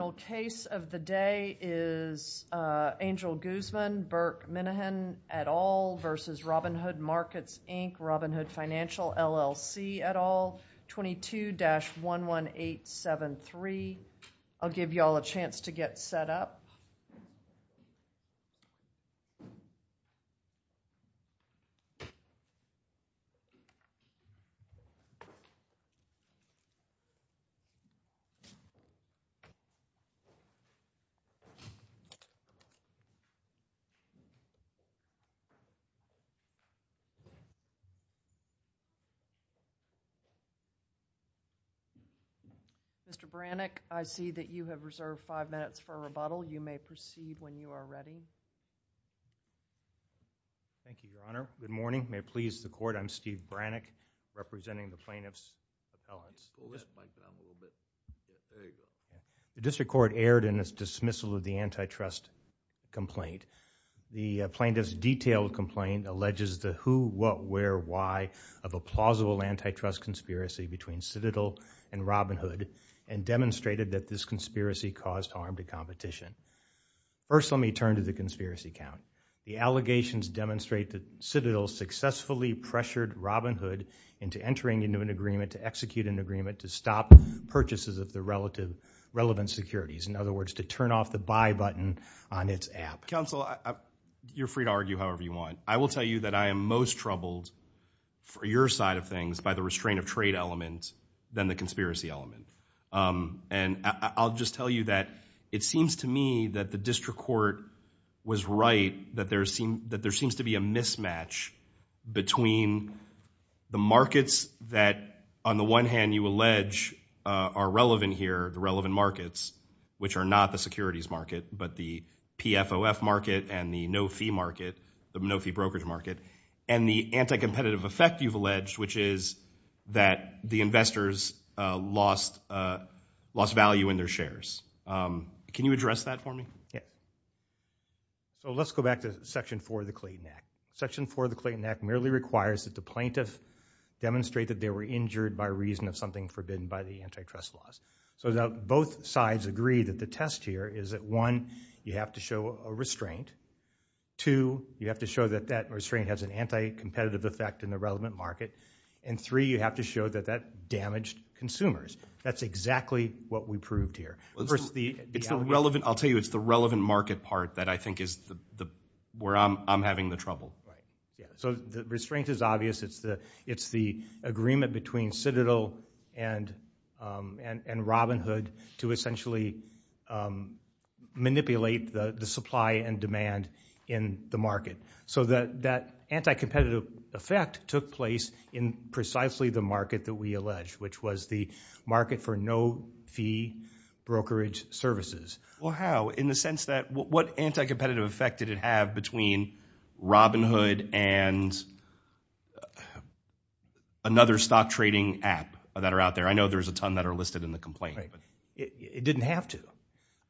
The final case of the day is Angel Guzman, Burke Minahan, et al. v. Robinhood Markets, Inc., Robinhood Financial, LLC, et al., 22-11873. I'll give you all a chance to get set up. Mr. Brannick, I see that you have reserved five minutes for rebuttal. You may proceed when you are ready. Thank you, Your Honor. Good morning. May it please the Court, I'm Steve Brannick representing the plaintiff's appellants. The district court erred in its dismissal of the antitrust complaint. The plaintiff's detailed complaint alleges the who, what, where, why of a plausible antitrust conspiracy between Citadel and Robinhood and demonstrated that this conspiracy caused harm to competition. First, let me turn to the conspiracy count. The allegations demonstrate that Citadel successfully pressured Robinhood into entering into an agreement to execute an agreement to stop purchases of the relevant securities, in other words, to turn off the buy button on its app. Counsel, you're free to argue however you want. I will tell you that I am most troubled for your side of things by the restraint of trade element than the conspiracy element. And I'll just tell you that it seems to me that the district court was right that there seems to be a mismatch between the markets that on the one hand you allege are relevant here, the relevant markets, which are not the securities market, but the PFOF market and the no-fee market, the no-fee brokerage market, and the anti-competitive effect you've lost value in their shares. Can you address that for me? Yeah. So let's go back to section four of the Clayton Act. Section four of the Clayton Act merely requires that the plaintiff demonstrate that they were injured by reason of something forbidden by the antitrust laws. So now both sides agree that the test here is that one, you have to show a restraint. Two, you have to show that that restraint has an anti-competitive effect in the relevant market. And three, you have to show that that damaged consumers. That's exactly what we proved here. I'll tell you, it's the relevant market part that I think is where I'm having the trouble. So the restraint is obvious. It's the agreement between Citadel and Robinhood to essentially manipulate the supply and demand in the market. So that anti-competitive effect took place in precisely the market that we allege, which was the market for no-fee brokerage services. Well how? In the sense that, what anti-competitive effect did it have between Robinhood and another stock trading app that are out there? I know there's a ton that are listed in the complaint. It didn't have to.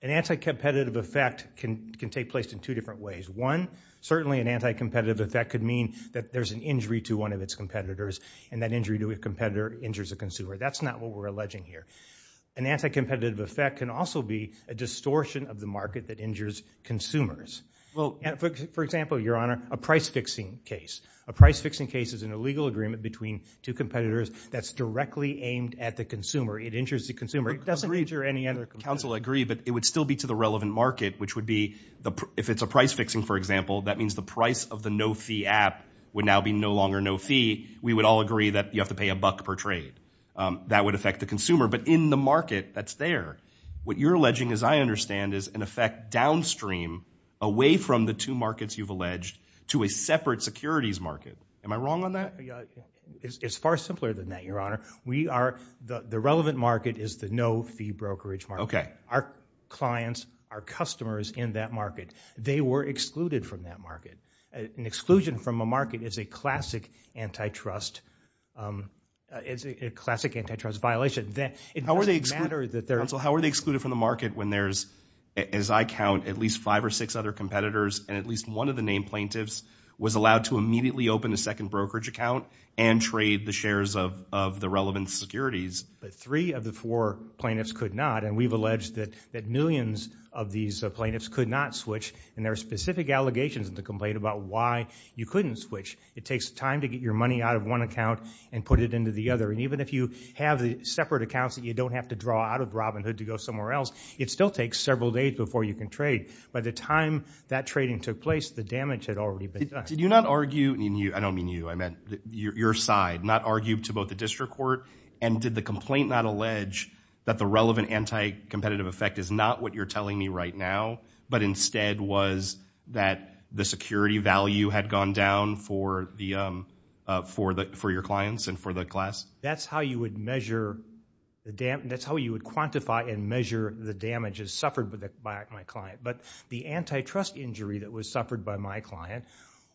An anti-competitive effect can take place in two different ways. One, certainly an anti-competitive effect could mean that there's an injury to one of the consumers. That's not what we're alleging here. An anti-competitive effect can also be a distortion of the market that injures consumers. For example, Your Honor, a price-fixing case. A price-fixing case is an illegal agreement between two competitors that's directly aimed at the consumer. It injures the consumer. It doesn't injure any other consumer. Counsel agree, but it would still be to the relevant market, which would be, if it's a price-fixing for example, that means the price of the no-fee app would now be no longer no-fee. We would all agree that you have to pay a buck per trade. That would affect the consumer. But in the market that's there, what you're alleging, as I understand, is an effect downstream away from the two markets you've alleged to a separate securities market. Am I wrong on that? It's far simpler than that, Your Honor. The relevant market is the no-fee brokerage market. An exclusion from a market is a classic antitrust violation. How are they excluded from the market when there's, as I count, at least five or six other competitors and at least one of the named plaintiffs was allowed to immediately open a second brokerage account and trade the shares of the relevant securities? Three of the four plaintiffs could not, and we've alleged that millions of these plaintiffs could not switch, and there are specific allegations in the complaint about why you couldn't switch. It takes time to get your money out of one account and put it into the other, and even if you have the separate accounts that you don't have to draw out of Robinhood to go somewhere else, it still takes several days before you can trade. By the time that trading took place, the damage had already been done. Did you not argue, I don't mean you, I meant your side, not argue to both the district court, and did the complaint not allege that the relevant anti-competitive effect is not what you're telling me right now, but instead was that the security value had gone down for your clients and for the class? That's how you would measure, that's how you would quantify and measure the damages suffered by my client, but the antitrust injury that was suffered by my client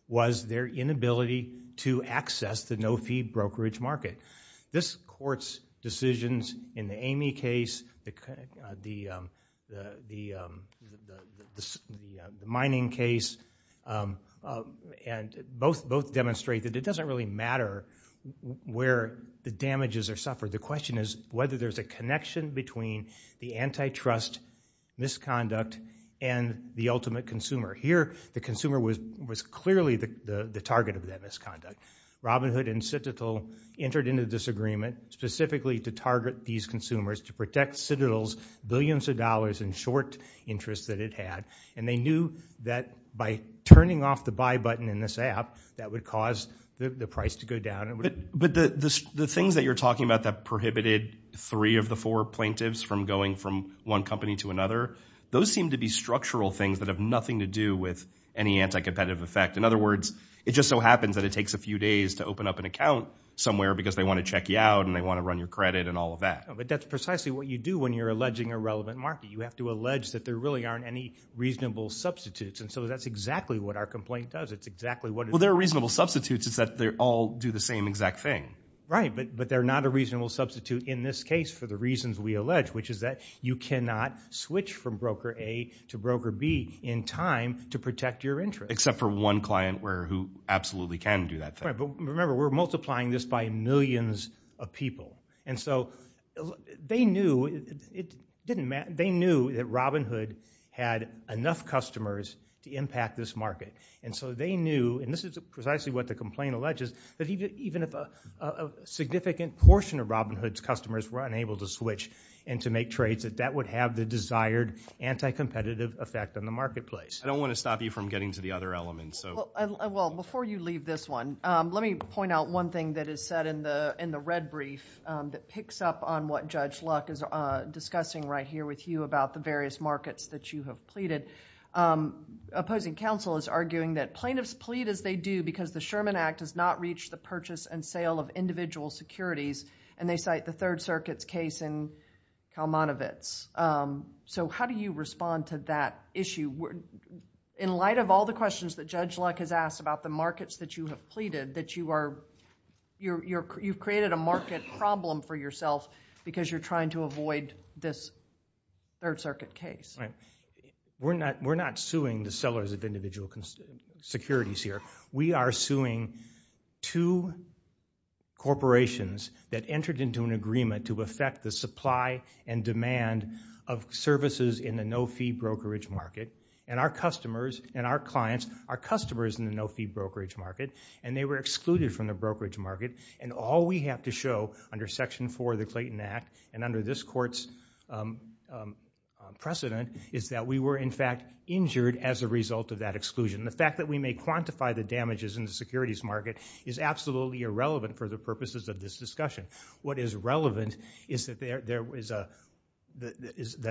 was their inability to access the no-fee brokerage market. This court's decisions in the Amy case, the mining case, both demonstrate that it doesn't really matter where the damages are suffered. The question is whether there's a connection between the antitrust misconduct and the ultimate consumer. Here, the consumer was clearly the target of that misconduct. Robinhood and Citadel entered into this agreement specifically to target these consumers to protect Citadel's billions of dollars in short interest that it had, and they knew that by turning off the buy button in this app, that would cause the price to go down. But the things that you're talking about that prohibited three of the four plaintiffs from going from one company to another, those seem to be structural things that have nothing to do with any anti-competitive effect. In other words, it just so happens that it takes a few days to open up an account somewhere because they want to check you out and they want to run your credit and all of that. That's precisely what you do when you're alleging a relevant market. You have to allege that there really aren't any reasonable substitutes, and so that's exactly what our complaint does. It's exactly what it is. Well, there are reasonable substitutes. It's that they all do the same exact thing. Right, but they're not a reasonable substitute in this case for the reasons we allege, which is that you cannot switch from broker A to broker B in time to protect your interest. Except for one client who absolutely can do that thing. Right, but remember, we're multiplying this by millions of people. And so they knew that Robinhood had enough customers to impact this market. And so they knew, and this is precisely what the complaint alleges, that even if a significant portion of Robinhood's customers were unable to switch and to make trades, that that would have the desired anti-competitive effect on the marketplace. I don't want to stop you from getting to the other elements. Well, before you leave this one, let me point out one thing that is said in the red brief that picks up on what Judge Luck is discussing right here with you about the various markets that you have pleaded. Opposing counsel is arguing that plaintiffs plead as they do because the Sherman Act has not reached the purchase and sale of individual securities, and they cite the Third Circuit's case in Kalmanovitz. So how do you respond to that issue? In light of all the questions that Judge Luck has asked about the markets that you have pleaded, that you are... you've created a market problem for yourself because you're trying to avoid this Third Circuit case. Right. We're not suing the sellers of individual securities here. We are suing two corporations that entered into an agreement to affect the supply and demand of services in the no-fee brokerage market, and our customers and our clients are customers in the no-fee brokerage market, and they were excluded from the brokerage market. And all we have to show under Section 4 of the Clayton Act and under this Court's precedent is that we were, in fact, injured as a result of that exclusion. The fact that we may quantify the damages in the securities market is absolutely irrelevant for the purposes of this discussion. What is relevant is that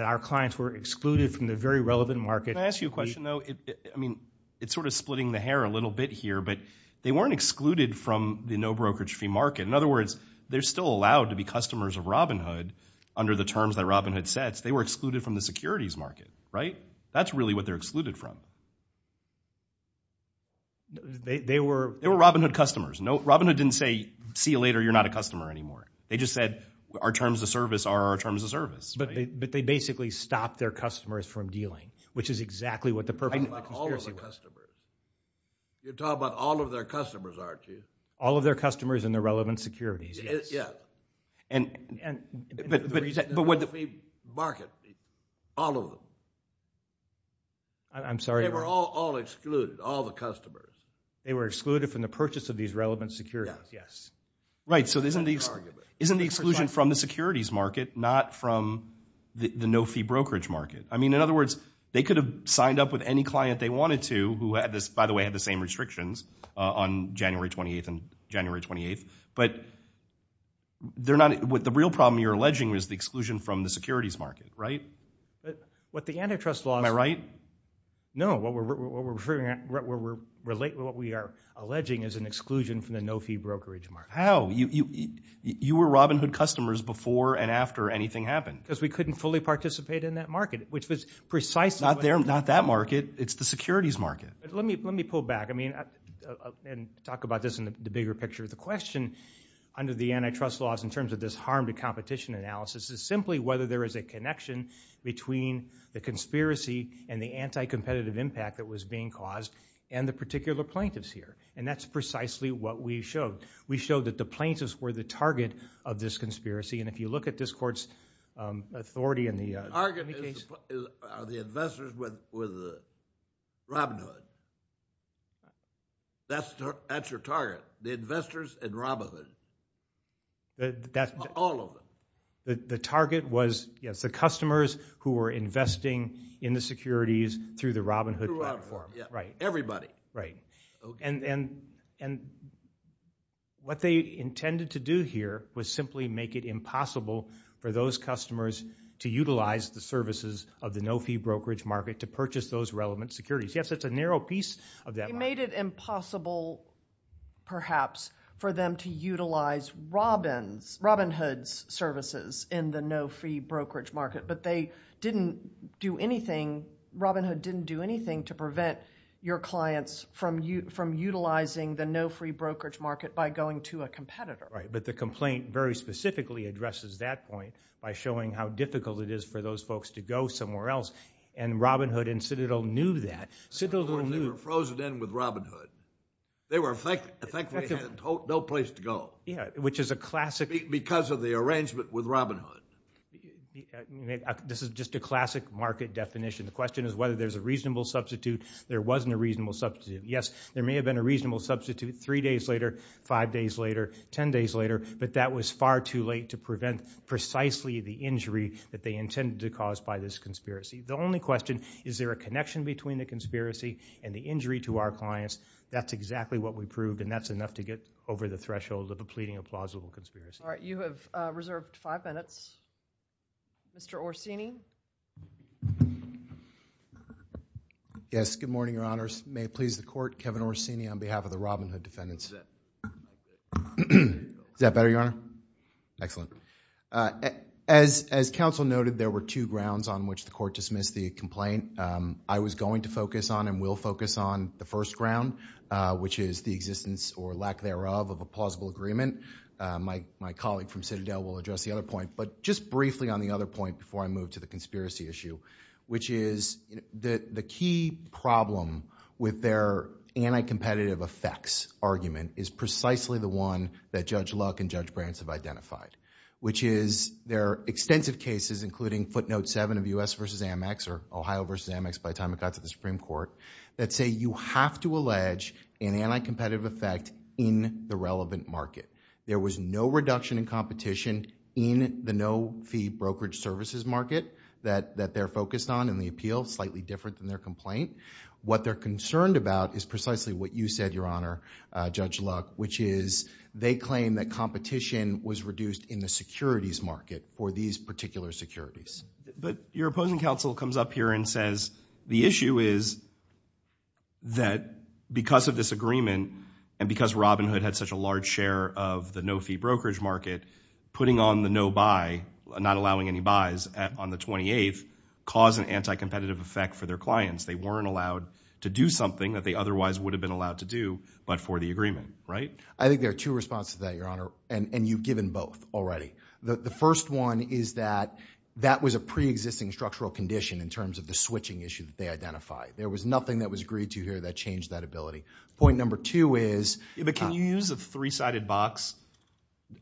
our clients were excluded from the very relevant market... Can I ask you a question, though? I mean, it's sort of splitting the hair a little bit here, but they weren't excluded from the no-brokerage-free market. In other words, they're still allowed to be customers of Robinhood under the terms that Robinhood sets. They were excluded from the securities market, right? That's really what they're excluded from. They were... They were Robinhood customers. No, Robinhood didn't say, see you later, you're not a customer anymore. They just said, our terms of service are our terms of service. But they basically stopped their customers from dealing, which is exactly what the purpose of the conspiracy was. You're talking about all of the customers. You're talking about all of their customers, aren't you? All of their customers and their relevant securities, yes. Yes. But... The reason... But what... The market, all of them... I'm sorry. They were all excluded, all the customers. They were excluded from the purchase of these relevant securities. Yes. Yes. Right. So isn't the exclusion from the securities market, not from the no-fee brokerage market? I mean, in other words, they could have signed up with any client they wanted to, who had this... by the way, had the same restrictions on January 28th and January 28th. But they're not... the real problem you're alleging is the exclusion from the securities market, right? What the antitrust laws... Am I right? No. What we're referring... what we are alleging is an exclusion from the no-fee brokerage market. How? You were Robinhood customers before and after anything happened. Because we couldn't fully participate in that market, which was precisely... Not there, not that market. It's the securities market. Let me pull back. I mean... and talk about this in the bigger picture. The question under the antitrust laws in terms of this harm to competition analysis is simply whether there is a connection between the conspiracy and the anti-competitive impact that was being caused and the particular plaintiffs here. And that's precisely what we showed. We showed that the plaintiffs were the target of this conspiracy. The investors were the Robinhood. That's your target, the investors and Robinhood, all of them. The target was, yes, the customers who were investing in the securities through the Robinhood platform. Throughout, yeah. Right. Everybody. Right. And what they intended to do here was simply make it impossible for those customers to purchase those relevant securities. Yes, it's a narrow piece of that. They made it impossible, perhaps, for them to utilize Robinhood's services in the no-fee brokerage market, but they didn't do anything... Robinhood didn't do anything to prevent your clients from utilizing the no-free brokerage market by going to a competitor. Right, but the complaint very specifically addresses that point by showing how difficult it is for those folks to go somewhere else. And Robinhood and Citadel knew that. Citadel knew... They were frozen in with Robinhood. They were... Thankfully, they had no place to go. Yeah, which is a classic... Because of the arrangement with Robinhood. This is just a classic market definition. The question is whether there's a reasonable substitute. There wasn't a reasonable substitute. Yes, there may have been a reasonable substitute three days later, five days later, ten days later, but that was far too late to prevent precisely the injury that they intended to cause by this conspiracy. The only question, is there a connection between the conspiracy and the injury to our clients? That's exactly what we proved, and that's enough to get over the threshold of a pleading applausible conspiracy. All right, you have reserved five minutes. Yes, good morning, Your Honors. May it please the Court, Kevin Orsini on behalf of the Robinhood defendants. Is that better, Your Honor? Excellent. As counsel noted, there were two grounds on which the Court dismissed the complaint. I was going to focus on and will focus on the first ground, which is the existence or lack thereof of a plausible agreement. My colleague from Citadel will address the other point, but just briefly on the other point, before I move to the conspiracy issue, which is the key problem with their anti-competitive effects argument is precisely the one that Judge Luck and Judge Brant have identified, which is there are extensive cases, including footnote seven of U.S. versus Amex, or Ohio versus Amex by the time it got to the Supreme Court, that say you have to allege an anti-competitive effect in the relevant market. There was no reduction in competition in the no-fee brokerage services market that they're focused on in the appeal, slightly different than their complaint. What they're concerned about is precisely what you said, Your Honor, Judge Luck, which is they claim that competition was reduced in the securities market for these particular securities. But your opposing counsel comes up here and says the issue is that because of this agreement and because Robinhood had such a large share of the no-fee brokerage market, putting on the no-buy, not allowing any buys on the 28th, caused an anti-competitive effect for their clients. They weren't allowed to do something that they otherwise would have been allowed to do but for the agreement, right? I think there are two responses to that, Your Honor, and you've given both already. The first one is that that was a pre-existing structural condition in terms of the switching issue that they identified. There was nothing that was agreed to here that changed that ability. Point number two is – Yeah, but can you use a three-sided box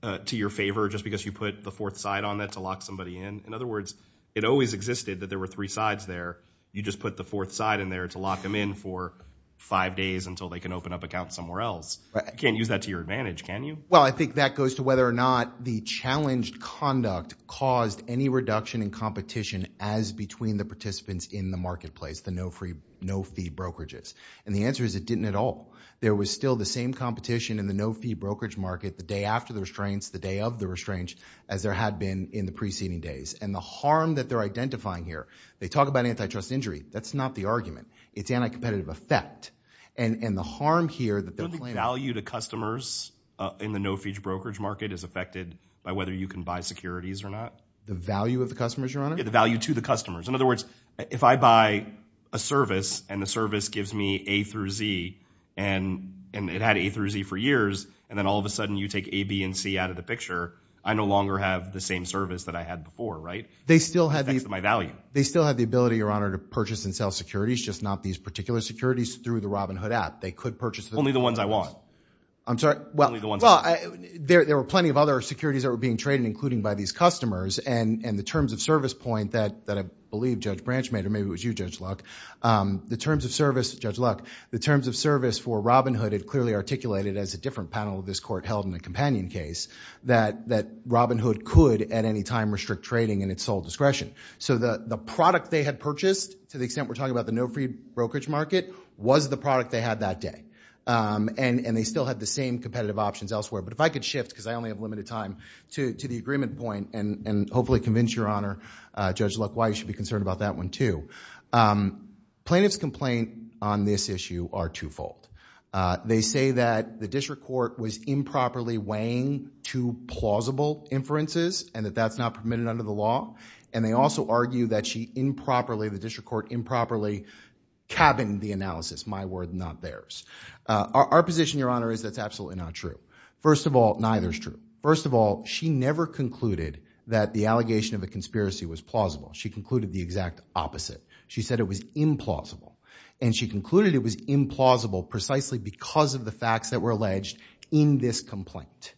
to your favor just because you put the fourth side on that to lock somebody in? In other words, it always existed that there were three sides there. You just put the fourth side in there to lock them in for five days until they can open up accounts somewhere else. You can't use that to your advantage, can you? Well, I think that goes to whether or not the challenged conduct caused any reduction in competition as between the participants in the marketplace, the no-fee brokerages. And the answer is it didn't at all. There was still the same competition in the no-fee brokerage market the day after the restraints, the day of the restraints as there had been in the preceding days. And the harm that they're identifying here, they talk about antitrust injury, that's not the argument. It's anti-competitive effect. And the harm here that they're claiming – So the value to customers in the no-fee brokerage market is affected by whether you can buy securities or not? The value of the customers, Your Honor? Yeah, the value to the customers. In other words, if I buy a service and the service gives me A through Z and it had A through Z for years, and then all of a sudden you take A, B, and C out of the picture, I no longer have the same service that I had before, right? They still have the – That's my value. They still have the ability, Your Honor, to purchase and sell securities, just not these particular securities through the Robinhood app. They could purchase – Only the ones I want. I'm sorry? Only the ones I want. Well, there were plenty of other securities that were being traded, including by these or maybe it was you, Judge Luck. The terms of service, Judge Luck, the terms of service for Robinhood had clearly articulated as a different panel of this court held in a companion case that Robinhood could at any time restrict trading in its sole discretion. So the product they had purchased, to the extent we're talking about the no-fee brokerage market, was the product they had that day. And they still had the same competitive options elsewhere. But if I could shift, because I only have limited time, to the agreement point and hopefully convince Your Honor, Judge Luck, why you should be concerned about that one too, plaintiff's complaint on this issue are twofold. They say that the district court was improperly weighing two plausible inferences and that that's not permitted under the law. And they also argue that she improperly, the district court improperly cabined the analysis, my word, not theirs. Our position, Your Honor, is that's absolutely not true. First of all, neither is true. First of all, she never concluded that the allegation of a conspiracy was plausible. She concluded the exact opposite. She said it was implausible. And she concluded it was implausible precisely because of the facts that were alleged in this complaint.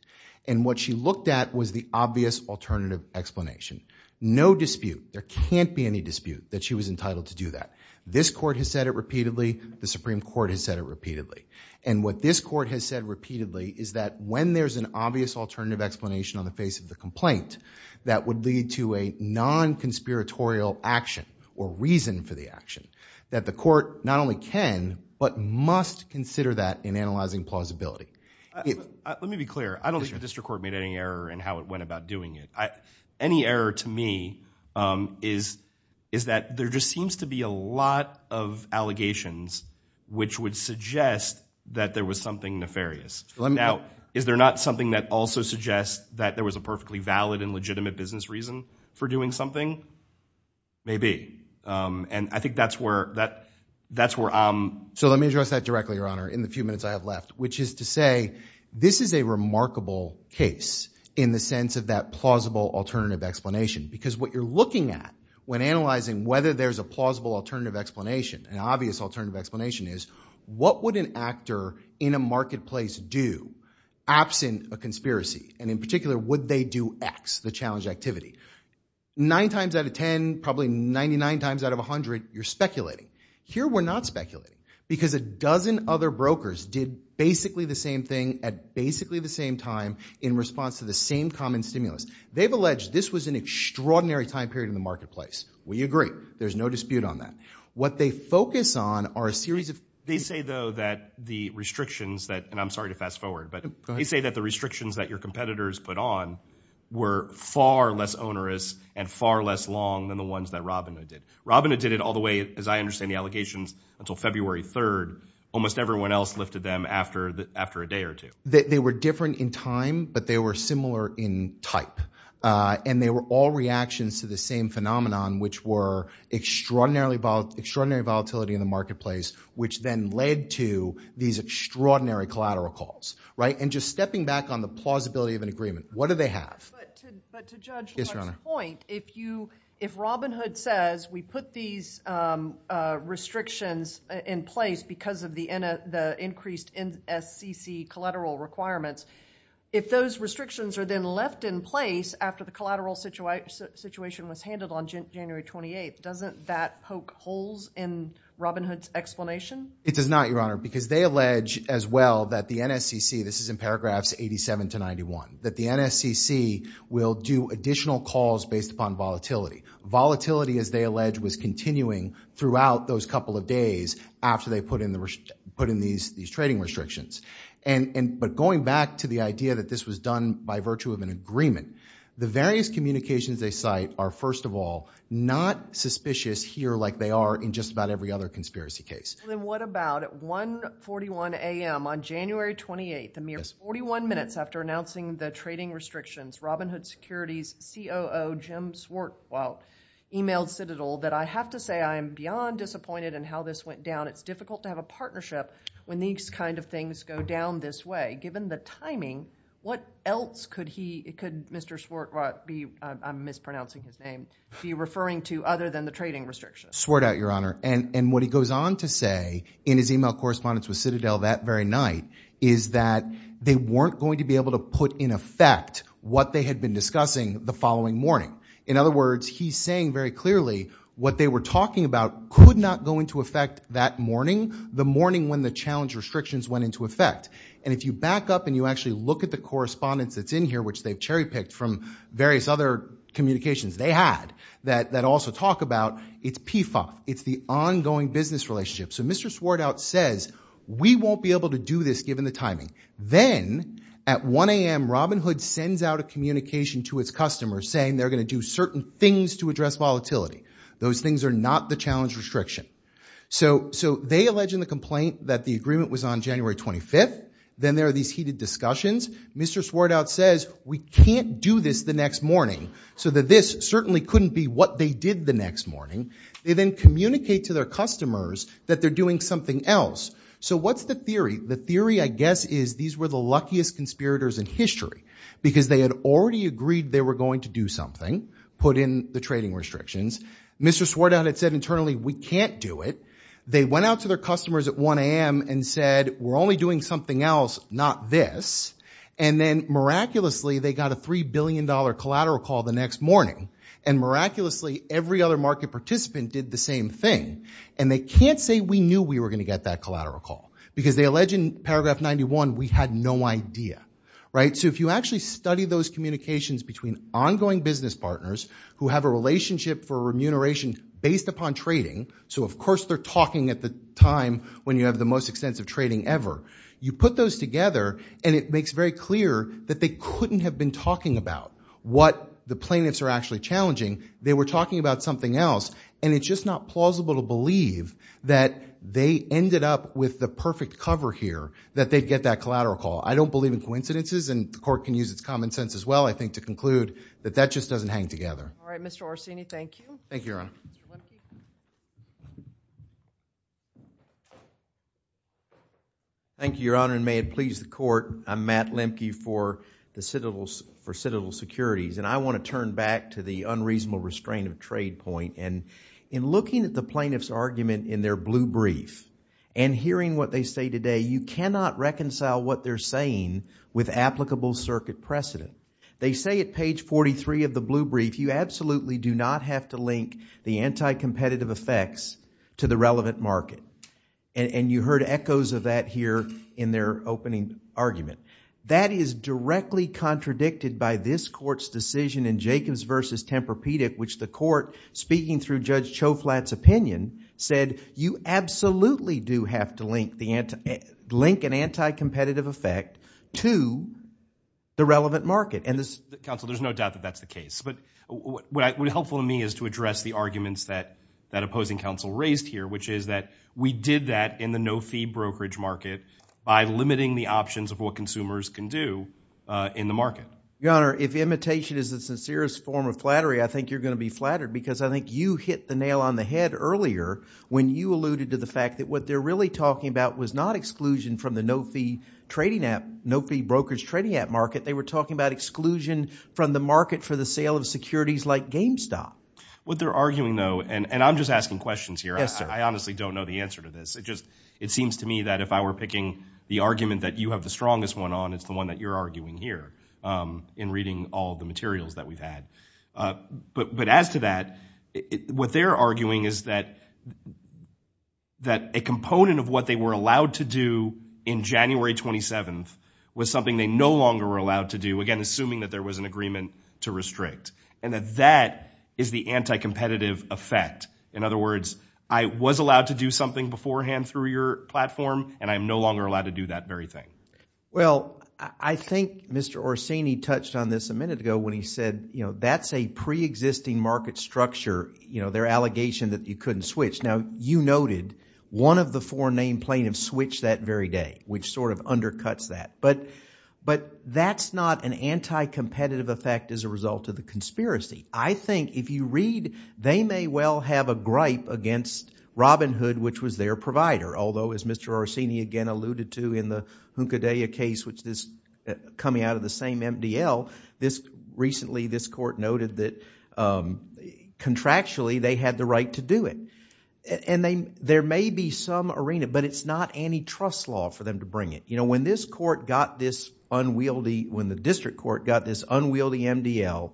And what she looked at was the obvious alternative explanation. No dispute, there can't be any dispute, that she was entitled to do that. This court has said it repeatedly. The Supreme Court has said it repeatedly. And what this court has said repeatedly is that when there's an obvious alternative explanation on the face of the complaint that would lead to a non-conspiratorial action or reason for the action, that the court not only can, but must consider that in analyzing plausibility. Let me be clear. I don't think the district court made any error in how it went about doing it. Any error to me is that there just seems to be a lot of allegations which would suggest that there was something nefarious. Is there not something that also suggests that there was a perfectly valid and legitimate business reason for doing something? Maybe. And I think that's where... So let me address that directly, Your Honor, in the few minutes I have left, which is to explanation. Because what you're looking at when analyzing whether there's a plausible alternative explanation, an obvious alternative explanation is, what would an actor in a marketplace do absent a conspiracy? And in particular, would they do X, the challenge activity? Nine times out of 10, probably 99 times out of 100, you're speculating. Here we're not speculating. Because a dozen other brokers did basically the same thing at basically the same time in response to the same common stimulus. They've alleged this was an extraordinary time period in the marketplace. We agree. There's no dispute on that. What they focus on are a series of... They say, though, that the restrictions that, and I'm sorry to fast forward, but they say that the restrictions that your competitors put on were far less onerous and far less long than the ones that Robina did. Robina did it all the way, as I understand the allegations, until February 3rd. Almost everyone else lifted them after a day or two. They were different in time, but they were similar in type. And they were all reactions to the same phenomenon, which were extraordinary volatility in the marketplace, which then led to these extraordinary collateral calls. And just stepping back on the plausibility of an agreement. What do they have? But to Judge Lord's point, if Robin Hood says, we put these restrictions in place because of the increased NSCC collateral requirements, if those restrictions are then left in place after the collateral situation was handled on January 28th, doesn't that poke holes in Robin Hood's explanation? It does not, Your Honor, because they allege as well that the NSCC, this is in paragraphs 87 to 91, that the NSCC will do additional calls based upon volatility. Volatility, as they allege, was continuing throughout those couple of days after they put in these trading restrictions. But going back to the idea that this was done by virtue of an agreement, the various communications they cite are, first of all, not suspicious here like they are in just about every other conspiracy case. Then what about at 1.41 a.m. on January 28th, a mere 41 minutes after announcing the trading restrictions, Robin Hood Securities COO Jim Swartwell emailed Citadel that, I have to say I am beyond disappointed in how this went down. It's difficult to have a partnership when these kind of things go down this way. Given the timing, what else could he, could Mr. Swartwell be, I'm mispronouncing his name, be referring to other than the trading restrictions? Swartwell, Your Honor, and what he goes on to say in his email correspondence with Citadel that very night is that they weren't going to be able to put in effect what they had been discussing the following morning. In other words, he's saying very clearly what they were talking about could not go into effect that morning, the morning when the challenge restrictions went into effect. And if you back up and you actually look at the correspondence that's in here, which they've cherry picked from various other communications they had that also talk about, it's PFA. It's the ongoing business relationship. So Mr. Swartwell says, we won't be able to do this given the timing. Then at 1 a.m. Robin Hood sends out a communication to its customers saying they're going to do certain things to address volatility. Those things are not the challenge restriction. So they allege in the complaint that the agreement was on January 25th. Then there are these heated discussions. Mr. Swartwell says, we can't do this the next morning. So that this certainly couldn't be what they did the next morning. They then communicate to their customers that they're doing something else. So what's the theory? The theory, I guess, is these were the luckiest conspirators in history because they had already agreed they were going to do something, put in the trading restrictions. Mr. Swartwell had said internally, we can't do it. They went out to their customers at 1 a.m. and said, we're only doing something else, not this. And then miraculously, they got a $3 billion collateral call the next morning. And miraculously, every other market participant did the same thing. And they can't say we knew we were going to get that collateral call because they allege in paragraph 91, we had no idea. Right? So if you actually study those communications between ongoing business partners who have a relationship for remuneration based upon trading, so of course they're talking at the time when you have the most extensive trading ever, you put those together and it makes very clear that they couldn't have been talking about what the plaintiffs are actually challenging. They were talking about something else. And it's just not plausible to believe that they ended up with the perfect cover here, that they'd get that collateral call. I don't believe in coincidences and the court can use its common sense as well, I think, to conclude that that just doesn't hang together. All right. Mr. Orsini, thank you. Thank you, Your Honor. Thank you, Your Honor. And may it please the court, I'm Matt Lemke for Citadel Securities. And I want to turn back to the unreasonable restraint of trade point. And in looking at the plaintiff's argument in their blue brief and hearing what they say today, you cannot reconcile what they're saying with applicable circuit precedent. They say at page 43 of the blue brief, you absolutely do not have to link the anti-competitive effects to the relevant market. And you heard echoes of that here in their opening argument. That is directly contradicted by this court's decision in Jacobs v. Tempur-Pedic, which the court, speaking through Judge Choflat's opinion, said, you absolutely do have to link an anti-competitive effect to the relevant market. And this— Counsel, there's no doubt that that's the case. But what would be helpful to me is to address the arguments that that opposing counsel raised here, which is that we did that in the no-fee brokerage market by limiting the options of what consumers can do in the market. Your Honor, if imitation is the sincerest form of flattery, I think you're going to be flattered because I think you hit the nail on the head earlier when you alluded to the was not exclusion from the no-fee trading app—no-fee brokerage trading app market. They were talking about exclusion from the market for the sale of securities like GameStop. What they're arguing, though—and I'm just asking questions here. I honestly don't know the answer to this. It seems to me that if I were picking the argument that you have the strongest one on, it's the one that you're arguing here in reading all the materials that we've had. But as to that, what they're arguing is that a component of what they were allowed to do in January 27th was something they no longer were allowed to do, again, assuming that there was an agreement to restrict, and that that is the anti-competitive effect. In other words, I was allowed to do something beforehand through your platform, and I'm no longer allowed to do that very thing. Well, I think Mr. Orsini touched on this a minute ago when he said, you know, that's a pre-existing market structure, you know, their allegation that you couldn't switch. Now, you noted one of the four name plaintiffs switched that very day, which sort of undercuts that. But that's not an anti-competitive effect as a result of the conspiracy. I think if you read—they may well have a gripe against Robinhood, which was their provider, although as Mr. Orsini again alluded to in the Hunkadea case, which is coming out of the same MDL, recently this court noted that contractually, they had the right to do it. There may be some arena, but it's not antitrust law for them to bring it. You know, when this court got this unwieldy—when the district court got this unwieldy MDL,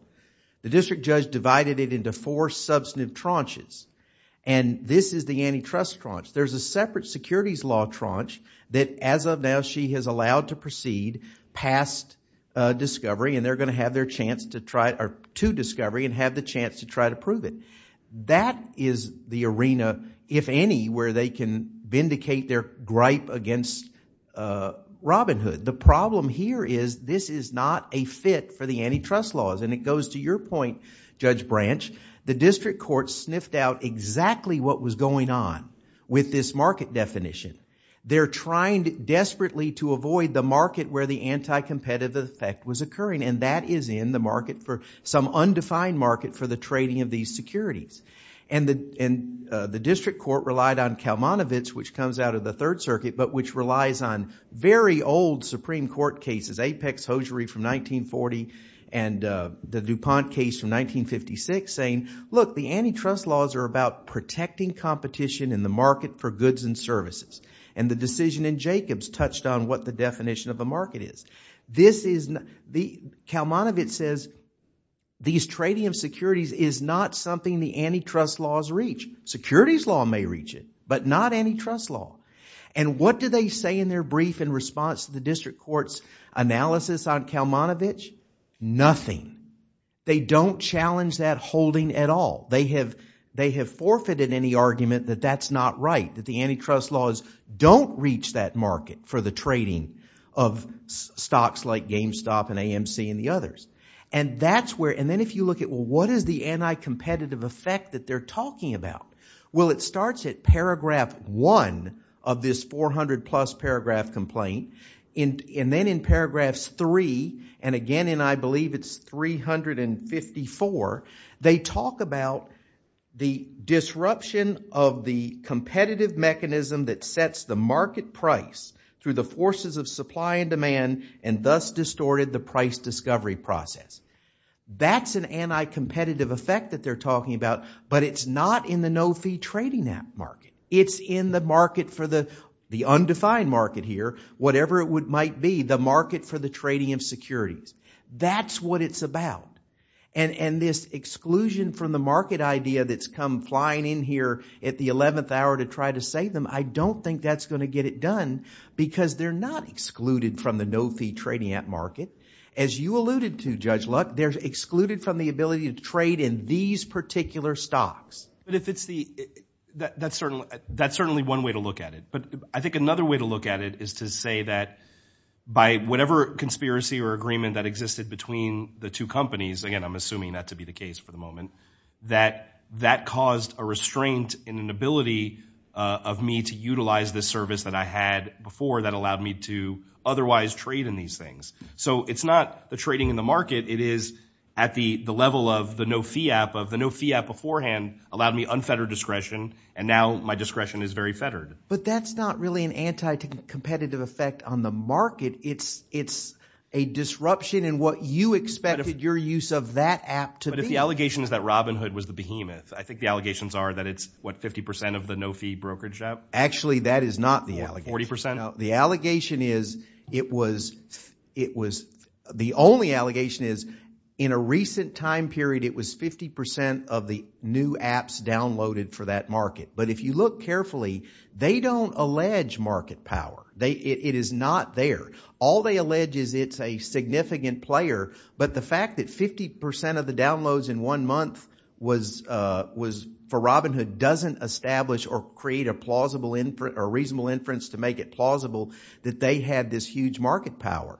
the district judge divided it into four substantive tranches, and this is the antitrust tranche. There's a separate securities law tranche that, as of now, she has allowed to proceed past discovery, and they're going to have their chance to try—or to discovery and have the chance to try to prove it. That is the arena, if any, where they can vindicate their gripe against Robinhood. The problem here is this is not a fit for the antitrust laws, and it goes to your point, Judge Branch. The district court sniffed out exactly what was going on with this market definition. They're trying desperately to avoid the market where the anti-competitive effect was occurring, and that is in the market for some undefined market for the trading of these securities. The district court relied on Kalmanovitz, which comes out of the Third Circuit, but which relies on very old Supreme Court cases, Apex-Hosiery from 1940 and the DuPont case from 1956, saying, look, the antitrust laws are about protecting competition in the market for goods and services, and the decision in Jacobs touched on what the definition of a market is. Kalmanovitz says these trading of securities is not something the antitrust laws reach. Securities law may reach it, but not antitrust law, and what do they say in their brief in response to the district court's analysis on Kalmanovitz? Nothing. They don't challenge that holding at all. They have forfeited any argument that that's not right, that the antitrust laws don't reach that market for the trading of stocks like GameStop and AMC and the others. And then if you look at, well, what is the anti-competitive effect that they're talking about? Well, it starts at paragraph one of this 400-plus paragraph complaint, and then in paragraphs three, and again, and I believe it's 354, they talk about the disruption of the competitive mechanism that sets the market price through the forces of supply and demand and thus distorted the price discovery process. That's an anti-competitive effect that they're talking about, but it's not in the no-fee trading app market. It's in the market for the undefined market here, whatever it might be, the market for the trading of securities. That's what it's about. And this exclusion from the market idea that's come flying in here at the 11th hour to try to save them, I don't think that's going to get it done because they're not excluded from the no-fee trading app market. As you alluded to, Judge Luck, they're excluded from the ability to trade in these particular stocks. But if it's the, that's certainly one way to look at it. But I think another way to look at it is to say that by whatever conspiracy or agreement that existed between the two companies, again, I'm assuming that to be the case for the moment, that that caused a restraint in an ability of me to utilize this service that I had before that allowed me to otherwise trade in these things. So it's not the trading in the market. It is at the level of the no-fee app, of the no-fee app beforehand allowed me unfettered discretion and now my discretion is very fettered. But that's not really an anti-competitive effect on the market. It's a disruption in what you expected your use of that app to be. But if the allegation is that Robinhood was the behemoth, I think the allegations are that it's what, 50% of the no-fee brokerage app? Actually, that is not the allegation. 40%? No, the allegation is it was, it was, the only allegation is in a recent time period, it was 50% of the new apps downloaded for that market. But if you look carefully, they don't allege market power. It is not there. All they allege is it's a significant player. But the fact that 50% of the downloads in one month was for Robinhood doesn't establish or create a plausible inference, a reasonable inference to make it plausible that they had this huge market power.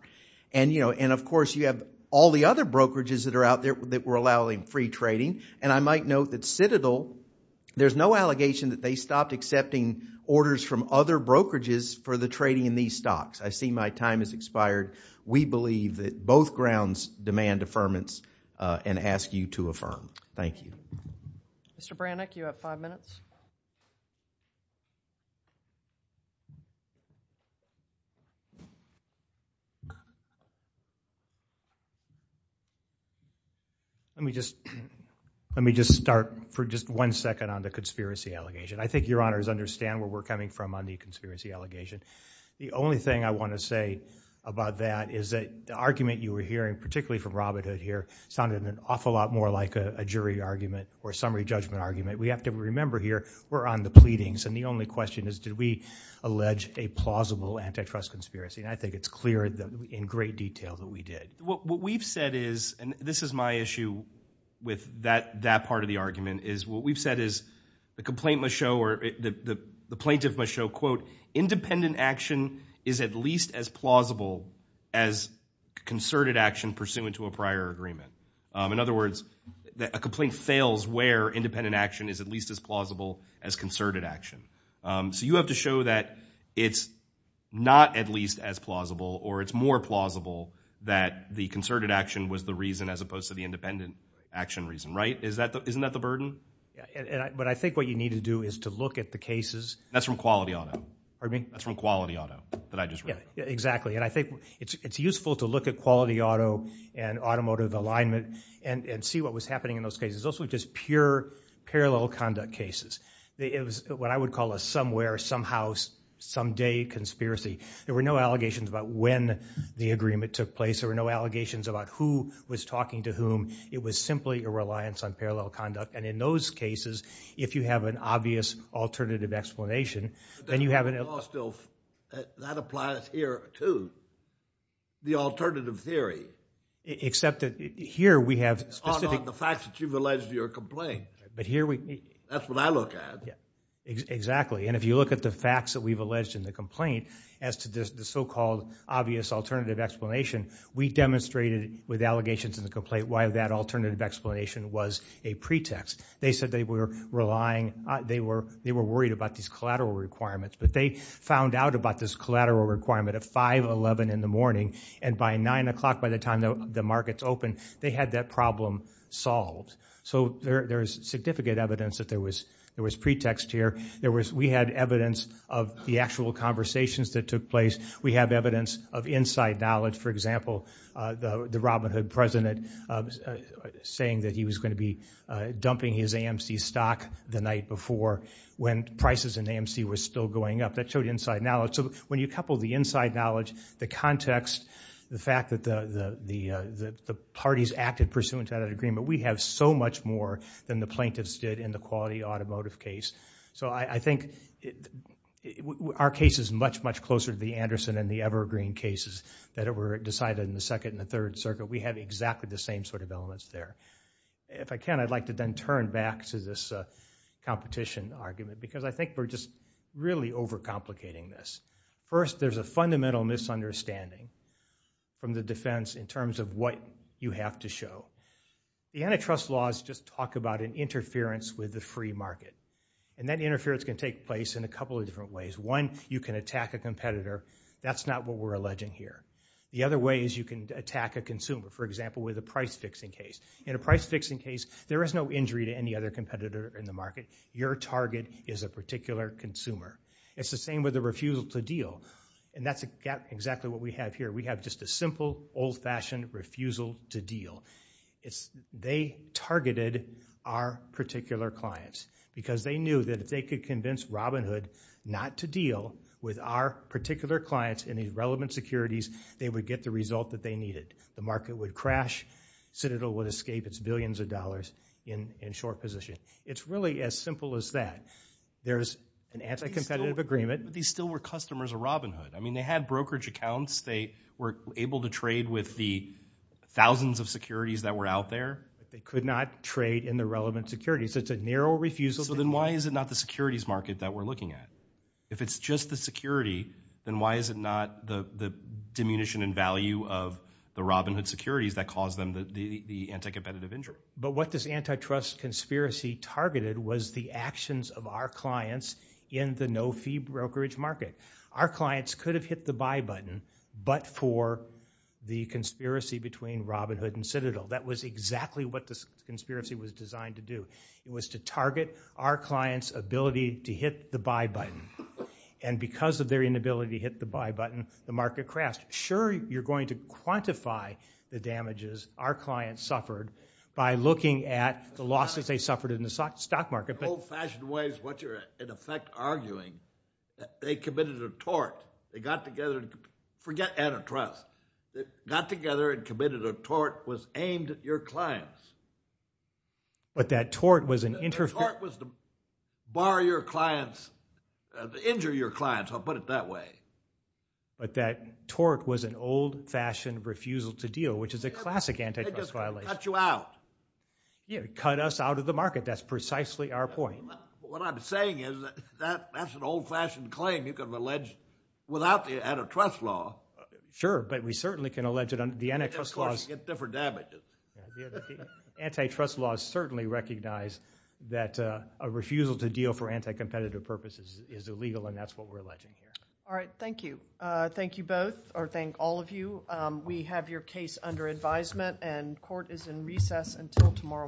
And you know, and of course you have all the other brokerages that are out there that were allowing free trading. And I might note that Citadel, there's no allegation that they stopped accepting orders from other brokerages for the trading in these stocks. I see my time has expired. We believe that both grounds demand affirmance and ask you to affirm. Thank you. Mr. Brannick, you have five minutes. Let me just, let me just start for just one second on the conspiracy allegation. I think your honors understand where we're coming from on the conspiracy allegation. The only thing I want to say about that is that the argument you were hearing, particularly from Robinhood here, sounded an awful lot more like a jury argument or summary judgment argument. We have to remember here we're on the pleadings and the only question is did we allege a plausible antitrust conspiracy? And I think it's clear in great detail that we did. What we've said is, and this is my issue with that part of the argument, is what we've said is the complaint must show or the plaintiff must show, quote, independent action is at least as plausible as concerted action pursuant to a prior agreement. In other words, a complaint fails where independent action is at least as plausible as concerted action. So you have to show that it's not at least as plausible or it's more plausible that the concerted action was the reason as opposed to the independent action reason. Right? Isn't that the burden? But I think what you need to do is to look at the cases. That's from Quality Auto. Pardon me? That's from Quality Auto that I just read. Exactly. And I think it's useful to look at Quality Auto and automotive alignment and see what was happening in those cases. Those were just pure parallel conduct cases. It was what I would call a somewhere, somehow, someday conspiracy. There were no allegations about when the agreement took place. There were no allegations about who was talking to whom. It was simply a reliance on parallel conduct. And in those cases, if you have an obvious alternative explanation, then you have an That applies here, too. The alternative theory. Except that here we have specific... On the facts that you've alleged in your complaint. But here we... That's what I look at. Yeah. Exactly. And if you look at the facts that we've alleged in the complaint as to the so-called obvious alternative explanation, we demonstrated with allegations in the complaint why that alternative explanation was a pretext. They said they were relying, they were worried about these collateral requirements. But they found out about this collateral requirement at 5.11 in the morning. And by 9 o'clock, by the time the markets opened, they had that problem solved. So there is significant evidence that there was pretext here. We had evidence of the actual conversations that took place. We have evidence of inside knowledge. For example, the Robin Hood president saying that he was going to be dumping his AMC stock the night before when prices in AMC were still going up. That showed inside knowledge. So when you couple the inside knowledge, the context, the fact that the parties acted pursuant to that agreement, we have so much more than the plaintiffs did in the quality automotive case. So I think our case is much, much closer to the Anderson and the Evergreen cases that were decided in the Second and the Third Circuit. We have exactly the same sort of elements there. If I can, I'd like to then turn back to this competition argument, because I think we're just really overcomplicating this. First, there's a fundamental misunderstanding from the defense in terms of what you have to show. The antitrust laws just talk about an interference with the free market. And that interference can take place in a couple of different ways. One, you can attack a competitor. That's not what we're alleging here. The other way is you can attack a consumer. For example, with a price-fixing case. In a price-fixing case, there is no injury to any other competitor in the market. Your target is a particular consumer. It's the same with a refusal to deal. And that's exactly what we have here. We have just a simple, old-fashioned refusal to deal. They targeted our particular clients, because they knew that if they could convince Robinhood not to deal with our particular clients and the relevant securities, they would get the result that they needed. The market would crash. Citadel would escape its billions of dollars in short position. It's really as simple as that. There's an anti-competitive agreement. These still were customers of Robinhood. I mean, they had brokerage accounts. They were able to trade with the thousands of securities that were out there. They could not trade in the relevant securities. It's a narrow refusal to deal. So then why is it not the securities market that we're looking at? If it's just the security, then why is it not the diminution in value of the Robinhood securities that caused them the anti-competitive injury? But what this antitrust conspiracy targeted was the actions of our clients in the no-fee brokerage market. Our clients could have hit the buy button, but for the conspiracy between Robinhood and Citadel. That was exactly what this conspiracy was designed to do. It was to target our clients' ability to hit the buy button. And because of their inability to hit the buy button, the market crashed. Sure, you're going to quantify the damages our clients suffered by looking at the losses they suffered in the stock market. Old-fashioned ways, which are in effect arguing that they committed a tort. They got together and, forget antitrust, they got together and committed a tort that was aimed at your clients. But that tort was an interference. The tort was to bar your clients, to injure your clients, I'll put it that way. But that tort was an old-fashioned refusal to deal, which is a classic antitrust violation. They just cut you out. Yeah, cut us out of the market. That's precisely our point. What I'm saying is that that's an old-fashioned claim you can allege without the antitrust law. Sure, but we certainly can allege it under the antitrust laws. Antitrust laws certainly recognize that a refusal to deal for anti-competitive purposes is illegal, and that's what we're alleging here. All right, thank you. Thank you both, or thank all of you. We have your case under advisement, and court is in recess until tomorrow morning.